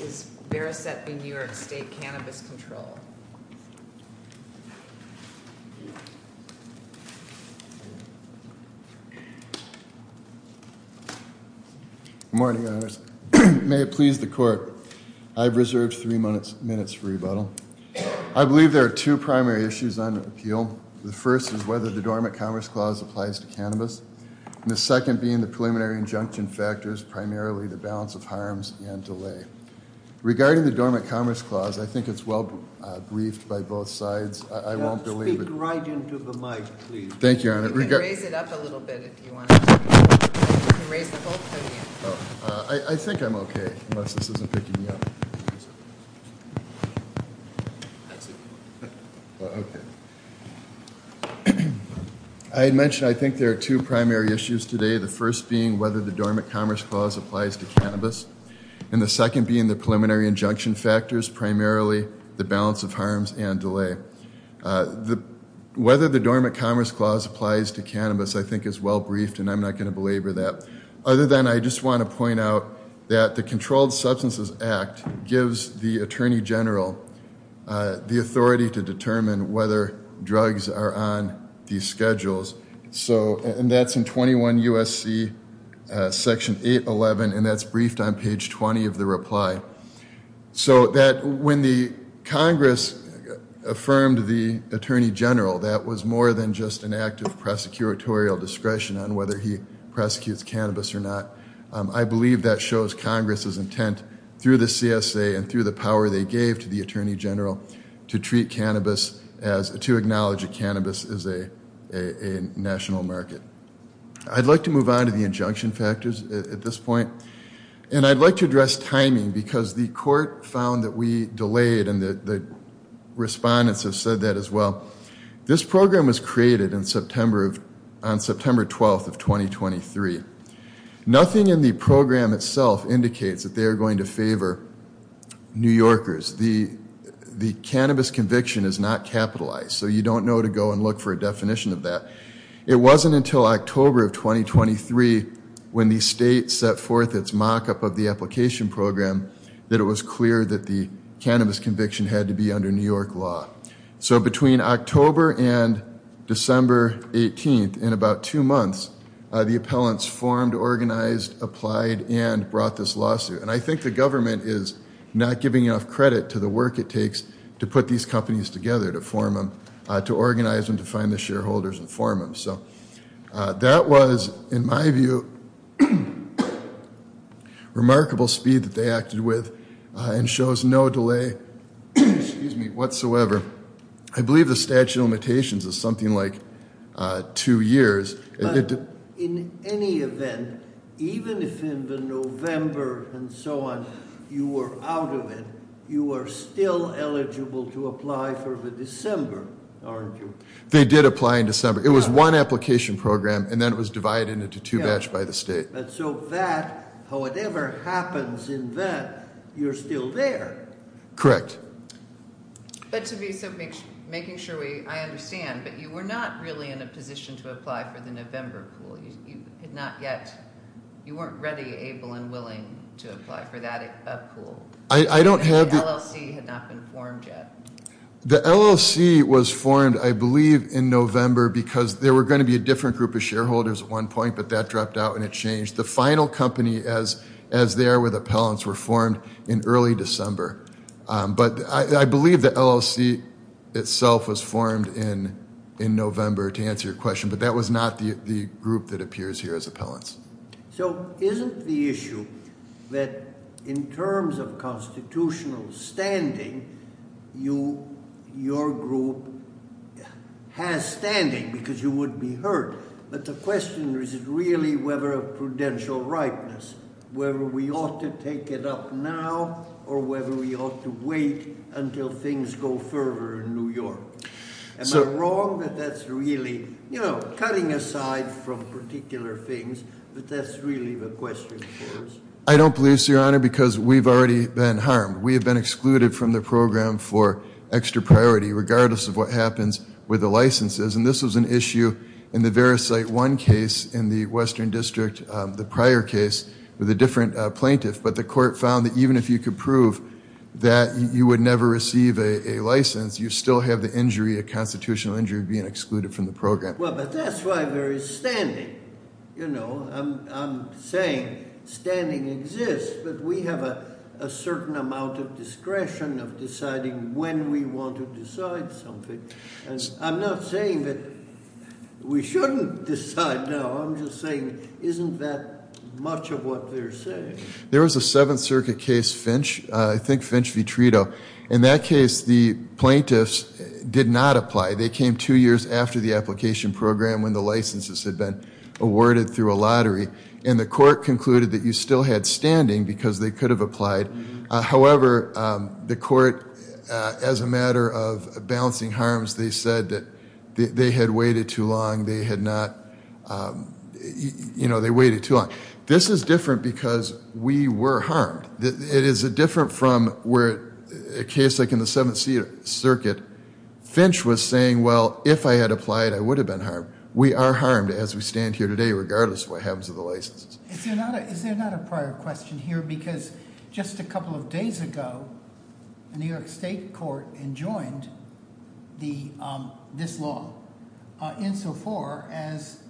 Good morning, may it please the court. I've reserved three minutes for rebuttal. I believe there are two primary issues on appeal. The first is whether the Dormant Commerce Clause applies to cannabis, and the second being the preliminary injunction factors, primarily the balance of harms and delay. Regarding the Dormant Commerce Clause, I think it's well briefed by both sides. I won't believe it. Speak right into the mic, please. Thank you, Your Honor. You can raise it up a little bit if you want to. You can raise the whole podium. I think I'm okay, unless this isn't picking me up. I had mentioned I think there are two primary issues today. The first being whether the Dormant Commerce Clause applies to cannabis, and the second being the preliminary injunction factors, primarily the balance of harms and delay. Whether the Dormant Commerce Clause applies to cannabis I think is well briefed, and I'm not going to belabor that. Other than I just want to point out that the Controlled Substances Act gives the Attorney General the authority to determine whether drugs are on these schedules. And that's in 21 U.S.C. Section 811, and that's briefed on page 20 of the reply. So that when the Congress affirmed the Attorney General, that was more than just an act of prosecutorial discretion on whether he prosecutes cannabis or not. I believe that shows Congress's intent through the CSA and through the power they gave to the Attorney General to treat cannabis as, to acknowledge that cannabis is a national market. I'd like to move on to the injunction factors at this point. And I'd like to address timing because the court found that we delayed, and the respondents have said that as well. This program was created on September 12th of 2023. Nothing in the program itself indicates that they are going to favor New Yorkers. The cannabis conviction is not capitalized, so you don't know to go and look for a definition of that. It wasn't until October of 2023 when the state set forth its mock-up of the application program that it was clear that the cannabis conviction had to be under New York law. So between October and December 18th, in about two months, the appellants formed, organized, applied, and brought this lawsuit. And I think the government is not giving enough credit to the work it takes to put these companies together, to form them, to organize them, to find the shareholders and form them. So that was, in my view, remarkable speed that they acted with and shows no delay whatsoever. I believe the statute of limitations is something like two years. But in any event, even if in the November and so on you were out of it, you are still eligible to apply for the December, aren't you? They did apply in December. It was one application program, and then it was divided into two batches by the state. But so that, whatever happens in that, you're still there. Correct. But to be making sure we, I understand, but you were not really in a position to apply for the November pool. You had not yet, you weren't ready, able, and willing to apply for that pool. I don't have. The LLC had not been formed yet. The LLC was formed, I believe, in November because there were going to be a different group of shareholders at one point, but that dropped out and it changed. The final company, as they are with appellants, were formed in early December. But I believe the LLC itself was formed in November, to answer your question, but that was not the group that appears here as appellants. So isn't the issue that in terms of constitutional standing, your group has standing because you wouldn't be hurt? But the question is really whether a prudential rightness, whether we ought to take it up now or whether we ought to wait until things go further in New York. Am I wrong that that's really cutting aside from particular things, but that's really the question for us? I don't believe so, Your Honor, because we've already been harmed. We have been excluded from the program for extra priority, regardless of what happens with the licenses. And this was an issue in the Verisight I case in the Western District, the prior case, with a different plaintiff. But the court found that even if you could prove that you would never receive a license, you still have the injury, a constitutional injury, being excluded from the program. Well, but that's why there is standing. I'm saying standing exists, but we have a certain amount of discretion of deciding when we want to decide something. And I'm not saying that we shouldn't decide now. I'm just saying isn't that much of what they're saying? There was a Seventh Circuit case, Finch, I think Finch v. Trito. In that case, the plaintiffs did not apply. They came two years after the application program when the licenses had been awarded through a lottery. And the court concluded that you still had standing because they could have applied. However, the court, as a matter of balancing harms, they said that they had waited too long. They had not, you know, they waited too long. This is different because we were harmed. It is different from where a case like in the Seventh Circuit, Finch was saying, well, if I had applied, I would have been harmed. We are harmed as we stand here today, regardless of what happens with the licenses. Is there not a prior question here? Because just a couple of days ago, the New York State Court enjoined this law, insofar as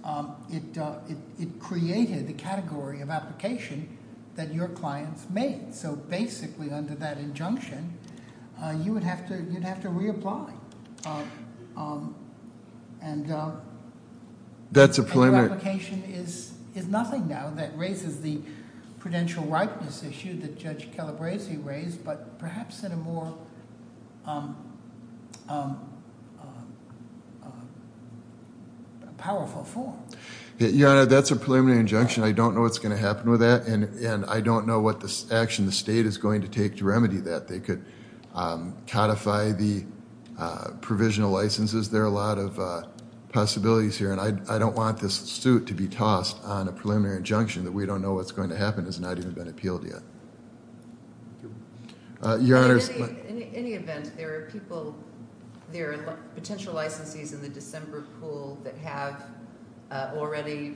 it created the category of application that your clients made. So basically, under that injunction, you would have to reapply. And your application is nothing now that raises the prudential rightness issue that Judge Calabresi raised, but perhaps in a more powerful form. Your Honor, that's a preliminary injunction. I don't know what's going to happen with that. And I don't know what action the state is going to take to remedy that. They could codify the provisional licenses. There are a lot of possibilities here. And I don't want this suit to be tossed on a preliminary injunction that we don't know what's going to happen. It's not even been appealed yet. Your Honor. In any event, there are people, there are potential licensees in the December pool that have already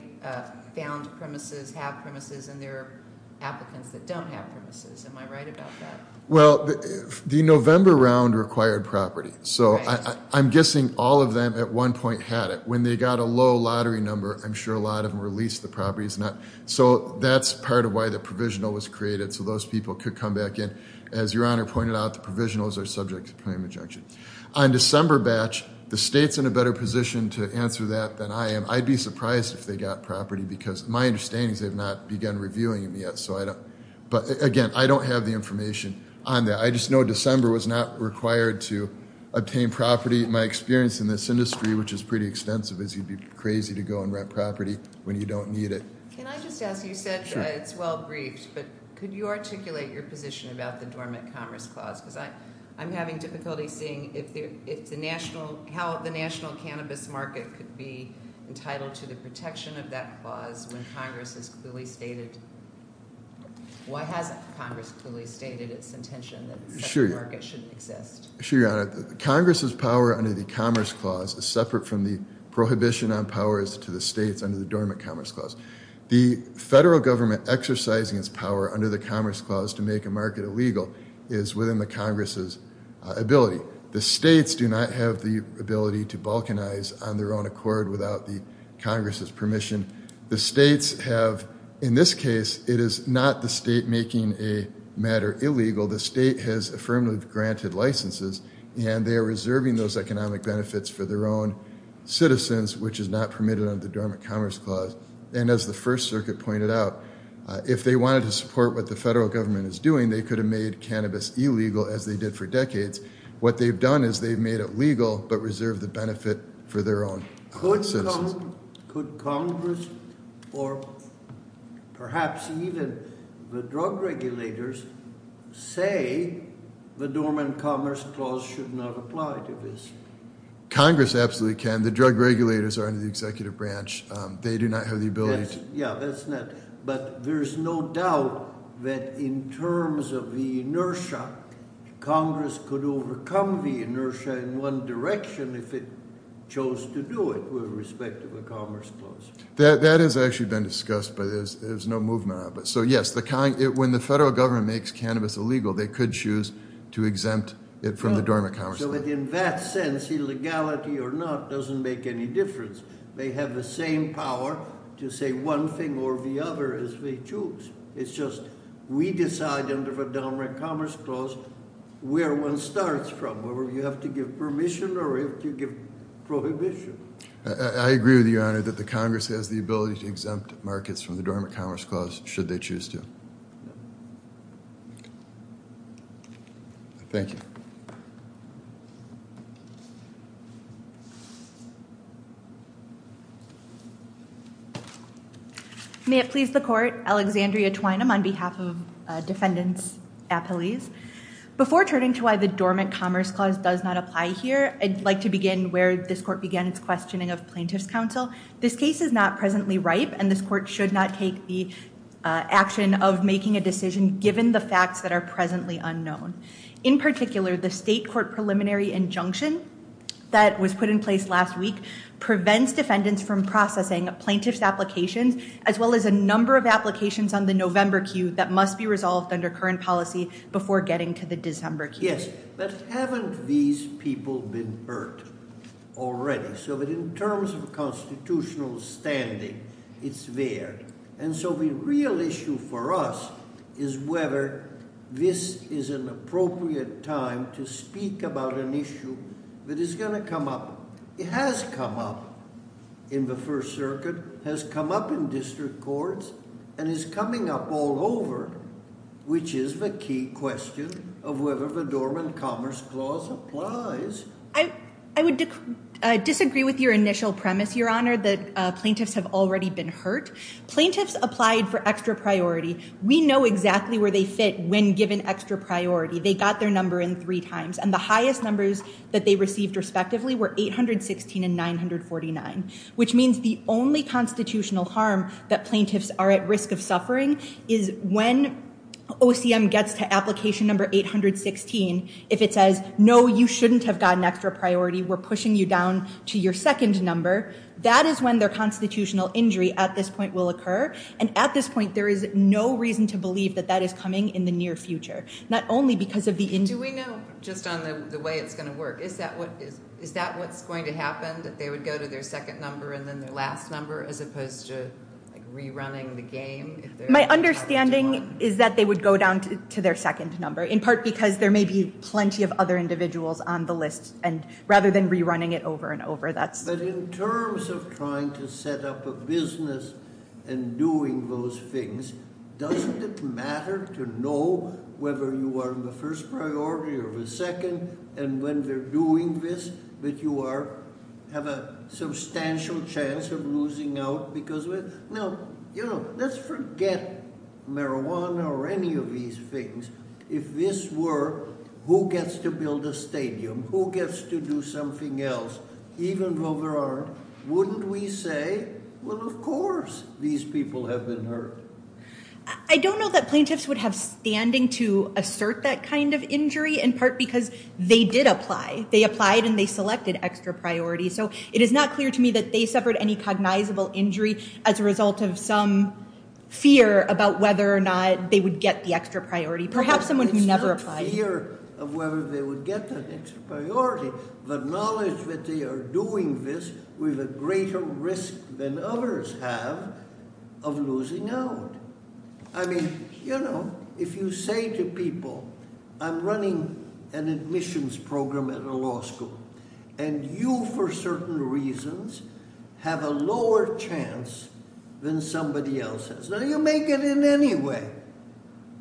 found premises, have premises, and there are applicants that don't have premises. Am I right about that? Well, the November round required property. So I'm guessing all of them at one point had it. When they got a low lottery number, I'm sure a lot of them released the properties. So that's part of why the provisional was created, so those people could come back in. As Your Honor pointed out, the provisionals are subject to preliminary injunction. On December batch, the state's in a better position to answer that than I am. I'd be surprised if they got property, because my understanding is they have not begun reviewing them yet. But, again, I don't have the information on that. I just know December was not required to obtain property. My experience in this industry, which is pretty extensive, is you'd be crazy to go and rent property when you don't need it. Can I just ask? You said it's well briefed, but could you articulate your position about the Dormant Commerce Clause? Because I'm having difficulty seeing how the national cannabis market could be entitled to the protection of that clause when Congress has clearly stated – why hasn't Congress clearly stated its intention that the second market shouldn't exist? Sure, Your Honor. Congress's power under the Commerce Clause is separate from the prohibition on powers to the states under the Dormant Commerce Clause. The federal government exercising its power under the Commerce Clause to make a market illegal is within the Congress's ability. The states do not have the ability to balkanize on their own accord without the Congress's permission. The states have – in this case, it is not the state making a matter illegal. The state has affirmatively granted licenses, and they are reserving those economic benefits for their own citizens, which is not permitted under the Dormant Commerce Clause. And as the First Circuit pointed out, if they wanted to support what the federal government is doing, they could have made cannabis illegal, as they did for decades. What they've done is they've made it legal but reserved the benefit for their own citizens. Could Congress or perhaps even the drug regulators say the Dormant Commerce Clause should not apply to this? Congress absolutely can. The drug regulators are under the executive branch. They do not have the ability to – Yeah, that's not – but there's no doubt that in terms of the inertia, Congress could overcome the inertia in one direction if it chose to do it with respect to the Commerce Clause. That has actually been discussed, but there's no movement on it. So, yes, when the federal government makes cannabis illegal, they could choose to exempt it from the Dormant Commerce Clause. So in that sense, illegality or not doesn't make any difference. They have the same power to say one thing or the other as they choose. It's just we decide under the Dormant Commerce Clause where one starts from, whether you have to give permission or if you give prohibition. I agree with you, Your Honor, that the Congress has the ability to exempt markets from the Dormant Commerce Clause should they choose to. Thank you. May it please the Court, Alexandria Twynam on behalf of Defendants Appellees. Before turning to why the Dormant Commerce Clause does not apply here, I'd like to begin where this Court began its questioning of Plaintiff's Counsel. This case is not presently ripe, and this Court should not take the action of making a decision given the facts that are presently unknown. In particular, the State Court preliminary injunction that was put in place last week prevents defendants from processing Plaintiff's applications, as well as a number of applications on the November queue that must be resolved under current policy before getting to the December queue. Yes, but haven't these people been burned already? So that in terms of constitutional standing, it's there. And so the real issue for us is whether this is an appropriate time to speak about an issue that is going to come up. It has come up in the First Circuit, has come up in district courts, and is coming up all over, which is the key question of whether the Dormant Commerce Clause applies. I would disagree with your initial premise, Your Honor, that plaintiffs have already been hurt. Plaintiffs applied for extra priority. We know exactly where they fit when given extra priority. They got their number in three times, and the highest numbers that they received respectively were 816 and 949, which means the only constitutional harm that plaintiffs are at risk of suffering is when OCM gets to application number 816, if it says, no, you shouldn't have gotten extra priority. We're pushing you down to your second number. That is when their constitutional injury at this point will occur. And at this point, there is no reason to believe that that is coming in the near future, not only because of the injury. Do we know, just on the way it's going to work, is that what's going to happen, that they would go to their second number and then their last number as opposed to rerunning the game? My understanding is that they would go down to their second number, in part because there may be plenty of other individuals on the list, rather than rerunning it over and over. But in terms of trying to set up a business and doing those things, doesn't it matter to know whether you are in the first priority or the second, and when they're doing this, that you have a substantial chance of losing out? Let's forget marijuana or any of these things. If this were who gets to build a stadium, who gets to do something else, even though there aren't, wouldn't we say, well, of course these people have been hurt? I don't know that plaintiffs would have standing to assert that kind of injury, in part because they did apply. They applied and they selected extra priority. So it is not clear to me that they suffered any cognizable injury, as a result of some fear about whether or not they would get the extra priority. Perhaps someone who never applied. It's not fear of whether they would get that extra priority. The knowledge that they are doing this with a greater risk than others have of losing out. I mean, you know, if you say to people, I'm running an admissions program at a law school, and you, for certain reasons, have a lower chance than somebody else has. Now, you make it in any way.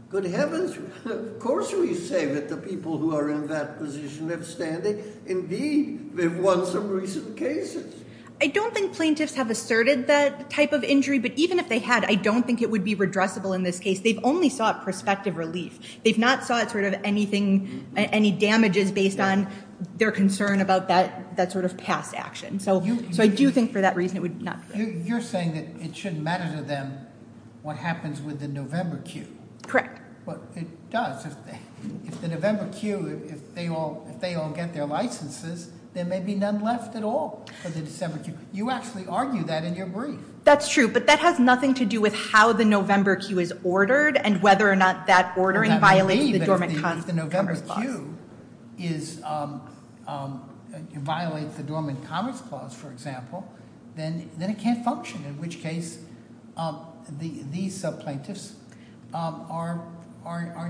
Good heavens, of course we say that the people who are in that position have standing. Indeed, they've won some recent cases. I don't think plaintiffs have asserted that type of injury, but even if they had, I don't think it would be redressable in this case. They've only sought prospective relief. They've not sought sort of anything, any damages based on their concern about that sort of past action. So I do think for that reason it would not be redressable. You're saying that it shouldn't matter to them what happens with the November queue. Correct. It does. If the November queue, if they all get their licenses, there may be none left at all for the December queue. You actually argue that in your brief. That's true, but that has nothing to do with how the November queue is ordered and whether or not that ordering violates the Dormant Commerce Clause. If the November queue violates the Dormant Commerce Clause, for example, then it can't function, in which case these subplaintiffs are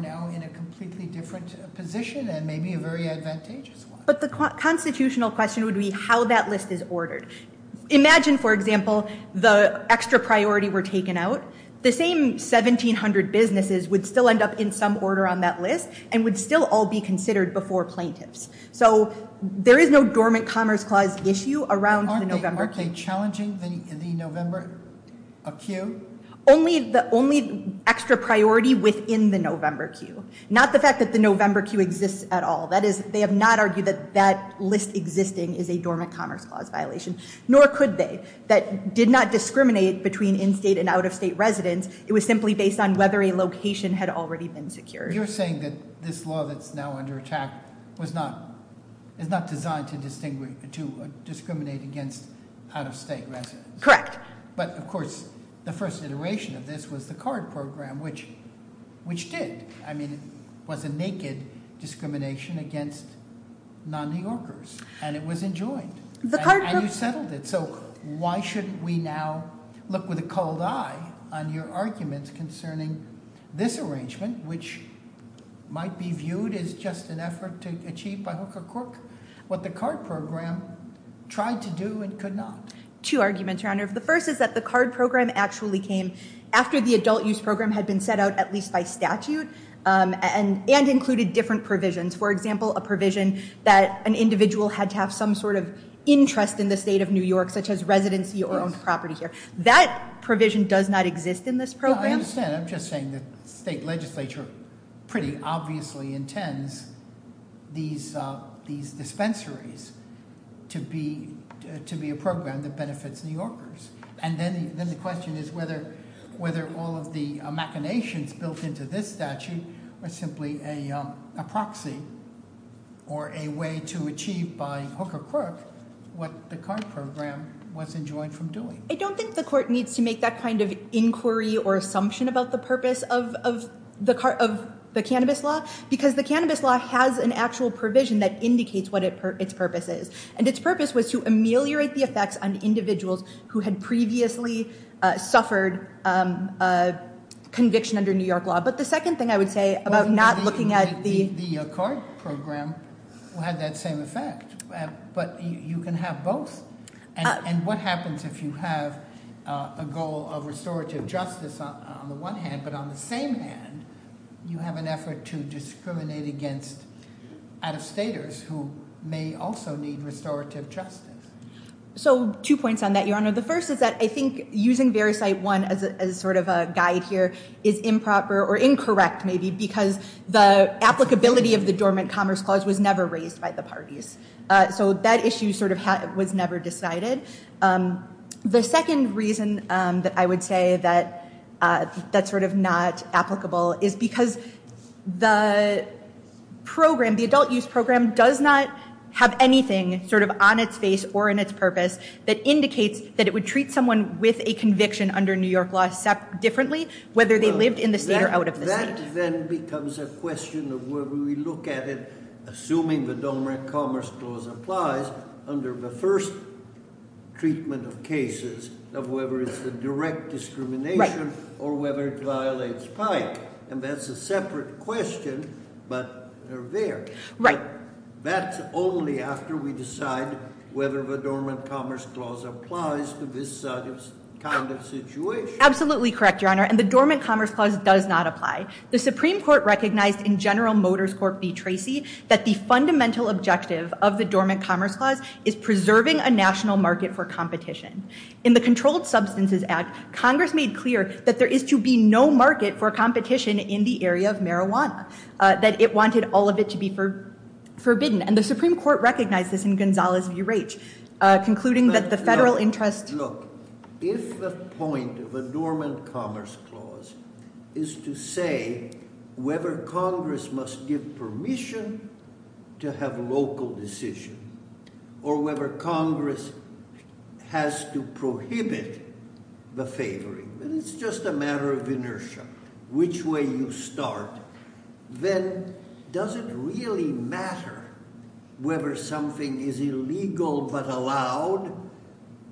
now in a completely different position and maybe a very advantageous one. But the constitutional question would be how that list is ordered. Imagine, for example, the extra priority were taken out. The same 1,700 businesses would still end up in some order on that list and would still all be considered before plaintiffs. So there is no Dormant Commerce Clause issue around the November queue. Aren't they challenging the November queue? Only the extra priority within the November queue. Not the fact that the November queue exists at all. That is, they have not argued that that list existing is a Dormant Commerce Clause violation. Nor could they. That did not discriminate between in-state and out-of-state residents. It was simply based on whether a location had already been secured. You're saying that this law that's now under attack is not designed to discriminate against out-of-state residents. Correct. But, of course, the first iteration of this was the CARD program, which did. I mean, it was a naked discrimination against non-New Yorkers, and it was enjoined. And you settled it. So why shouldn't we now look with a culled eye on your arguments concerning this arrangement, which might be viewed as just an effort to achieve by hook or crook what the CARD program tried to do and could not? Two arguments, Your Honor. The first is that the CARD program actually came after the adult use program had been set out at least by statute and included different provisions. For example, a provision that an individual had to have some sort of interest in the state of New York, such as residency or owned property here. That provision does not exist in this program. I understand. I'm just saying the state legislature pretty obviously intends these dispensaries to be a program that benefits New Yorkers. And then the question is whether all of the machinations built into this statute are simply a proxy or a way to achieve by hook or crook what the CARD program was enjoined from doing. I don't think the court needs to make that kind of inquiry or assumption about the purpose of the cannabis law because the cannabis law has an actual provision that indicates what its purpose is. And its purpose was to ameliorate the effects on individuals who had previously suffered conviction under New York law. But the second thing I would say about not looking at the- The CARD program had that same effect. But you can have both. And what happens if you have a goal of restorative justice on the one hand, but on the same hand, you have an effort to discriminate against out-of-staters who may also need restorative justice? So two points on that, Your Honor. The first is that I think using VeriCite I as sort of a guide here is improper or incorrect maybe because the applicability of the Dormant Commerce Clause was never raised by the parties. So that issue sort of was never decided. The second reason that I would say that that's sort of not applicable is because the program, the adult use program, does not have anything sort of on its face or in its purpose that indicates that it would treat someone with a conviction under New York law differently, whether they lived in the state or out of the state. That then becomes a question of whether we look at it, assuming the Dormant Commerce Clause applies, under the first treatment of cases of whether it's a direct discrimination or whether it violates PIC. And that's a separate question, but they're there. Right. That's only after we decide whether the Dormant Commerce Clause applies to this kind of situation. Absolutely correct, Your Honor. And the Dormant Commerce Clause does not apply. The Supreme Court recognized in General Motors Corp v. Tracy that the fundamental objective of the Dormant Commerce Clause is preserving a national market for competition. In the Controlled Substances Act, Congress made clear that there is to be no market for competition in the area of marijuana, that it wanted all of it to be forbidden. And the Supreme Court recognized this in Gonzales v. Raich, concluding that the federal interest... Look, if the point of the Dormant Commerce Clause is to say whether Congress must give permission to have local decision or whether Congress has to prohibit the favoring, and it's just a matter of inertia, which way you start, then does it really matter whether something is illegal but allowed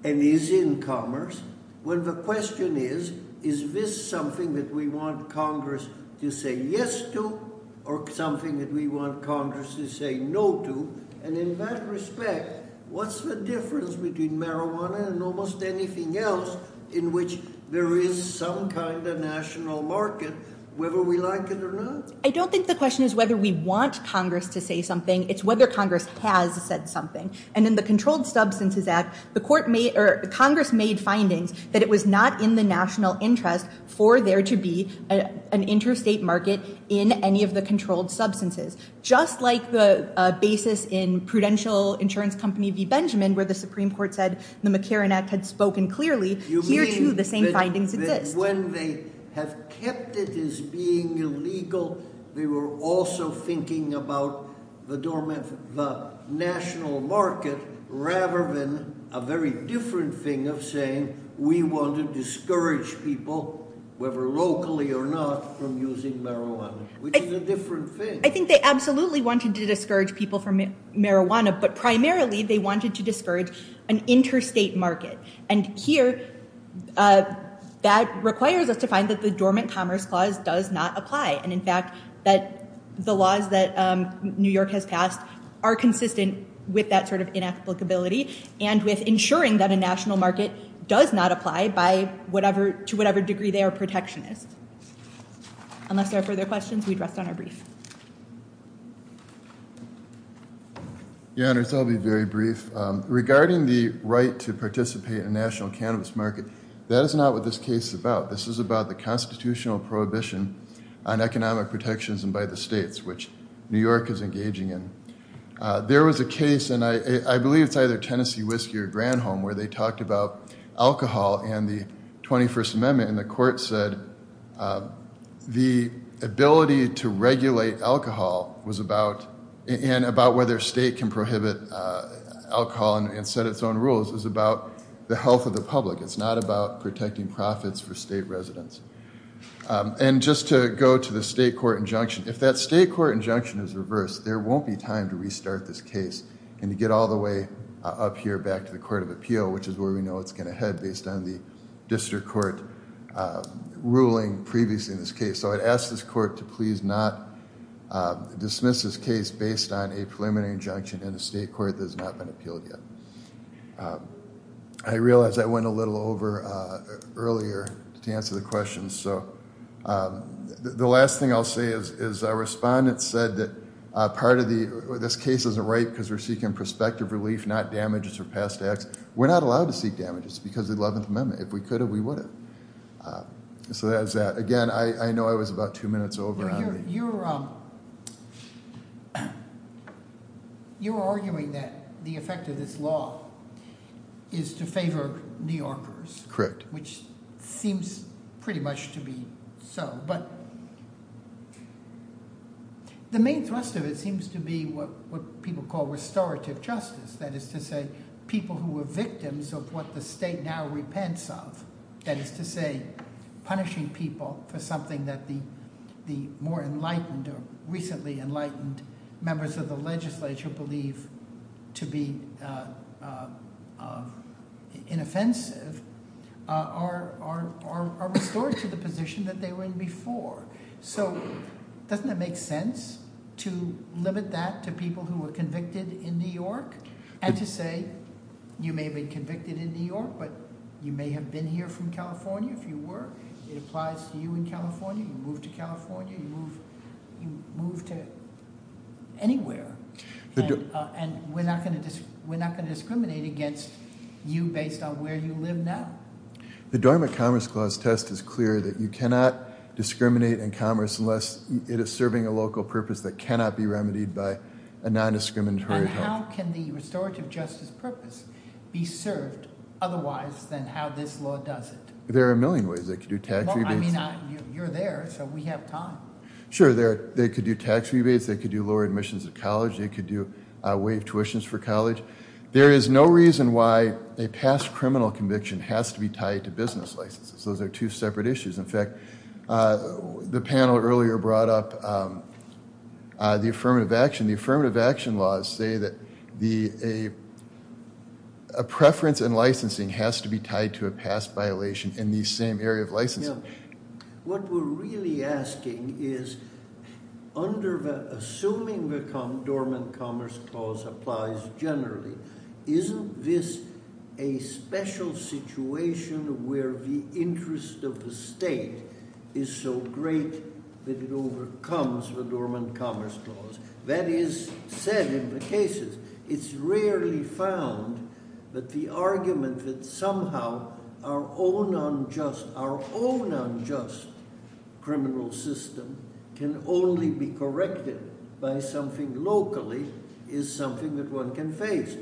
and is in commerce when the question is, is this something that we want Congress to say yes to or something that we want Congress to say no to? And in that respect, what's the difference between marijuana and almost anything else in which there is some kind of national market, whether we like it or not? I don't think the question is whether we want Congress to say something. It's whether Congress has said something. And in the Controlled Substances Act, Congress made findings that it was not in the national interest for there to be an interstate market in any of the controlled substances. Just like the basis in Prudential Insurance Company v. Benjamin where the Supreme Court said the McCarran Act had spoken clearly, here too the same findings exist. You mean that when they have kept it as being illegal, they were also thinking about the national market rather than a very different thing of saying we want to discourage people, whether locally or not, from using marijuana, which is a different thing. I think they absolutely wanted to discourage people from marijuana, but primarily they wanted to discourage an interstate market. And here, that requires us to find that the Dormant Commerce Clause does not apply. And in fact, that the laws that New York has passed are consistent with that sort of inapplicability and with ensuring that a national market does not apply to whatever degree they are protectionist. Unless there are further questions, we'd rest on our brief. Yeah, I'll be very brief. Regarding the right to participate in national cannabis market, that is not what this case is about. This is about the constitutional prohibition on economic protections and by the states, which New York is engaging in. There was a case, and I believe it's either Tennessee Whiskey or Granholm, where they talked about alcohol and the 21st Amendment. And the court said the ability to regulate alcohol and about whether a state can prohibit alcohol and set its own rules is about the health of the public. It's not about protecting profits for state residents. And just to go to the state court injunction. If that state court injunction is reversed, there won't be time to restart this case and to get all the way up here back to the Court of Appeal, which is where we know it's going to head based on the district court ruling previously in this case. So I'd ask this court to please not dismiss this case based on a preliminary injunction in a state court that has not been appealed yet. I realize I went a little over earlier to answer the question. So the last thing I'll say is our respondents said that part of this case is a rape because we're seeking prospective relief, not damages or past acts. We're not allowed to seek damages because of the 11th Amendment. If we could have, we wouldn't. So that's that. Again, I know I was about two minutes over. You're arguing that the effect of this law is to favor New Yorkers. Which seems pretty much to be so. But the main thrust of it seems to be what people call restorative justice. That is to say, people who were victims of what the state now repents of. That is to say, punishing people for something that the more enlightened or recently enlightened members of the legislature believe to be inoffensive, are restored to the position that they were in before. So doesn't it make sense to limit that to people who were convicted in New York? And to say, you may have been convicted in New York, but you may have been here from California if you were. It applies to you in California. You move to California. You move to anywhere. And we're not going to discriminate against you based on where you live now. The Dormant Commerce Clause test is clear that you cannot discriminate in commerce unless it is serving a local purpose that cannot be remedied by a non-discriminatory. And how can the restorative justice purpose be served otherwise than how this law does it? There are a million ways they could do tax rebates. Well, I mean, you're there, so we have time. Sure, they could do tax rebates. They could do lower admissions to college. They could do waived tuitions for college. There is no reason why a past criminal conviction has to be tied to business licenses. Those are two separate issues. In fact, the panel earlier brought up the affirmative action. The affirmative action laws say that a preference in licensing has to be tied to a past violation in the same area of licensing. What we're really asking is, assuming the Dormant Commerce Clause applies generally, isn't this a special situation where the interest of the state is so great that it overcomes the Dormant Commerce Clause? That is said in the cases. It's rarely found that the argument that somehow our own unjust criminal system can only be corrected by something locally is something that one can face.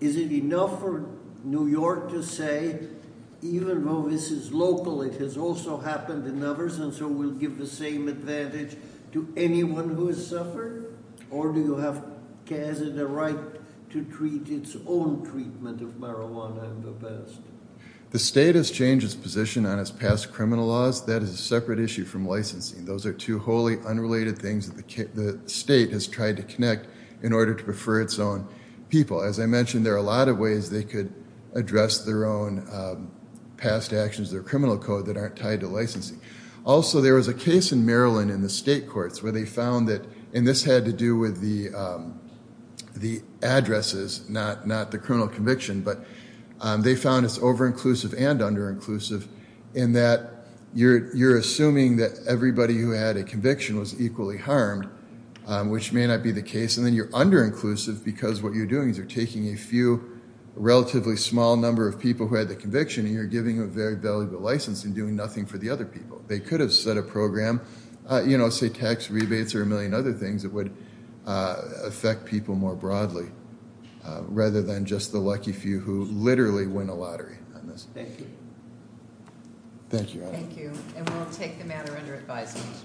Is it enough for New York to say, even though this is local, it has also happened in others, and so we'll give the same advantage to anyone who has suffered? Or do you have the right to treat its own treatment of marijuana in the past? The state has changed its position on its past criminal laws. That is a separate issue from licensing. Those are two wholly unrelated things that the state has tried to connect in order to prefer its own people. As I mentioned, there are a lot of ways they could address their own past actions, their criminal code, that aren't tied to licensing. Also, there was a case in Maryland in the state courts where they found that, and this had to do with the addresses, not the criminal conviction, but they found it's over-inclusive and under-inclusive in that you're assuming that everybody who had a conviction was equally harmed, which may not be the case, and then you're under-inclusive because what you're doing is you're taking a few relatively small number of people who had the conviction, and you're giving a very valuable license and doing nothing for the other people. They could have set a program, say tax rebates or a million other things that would affect people more broadly, rather than just the lucky few who literally win a lottery on this issue. Thank you. Thank you. And we'll take the matter under advisement.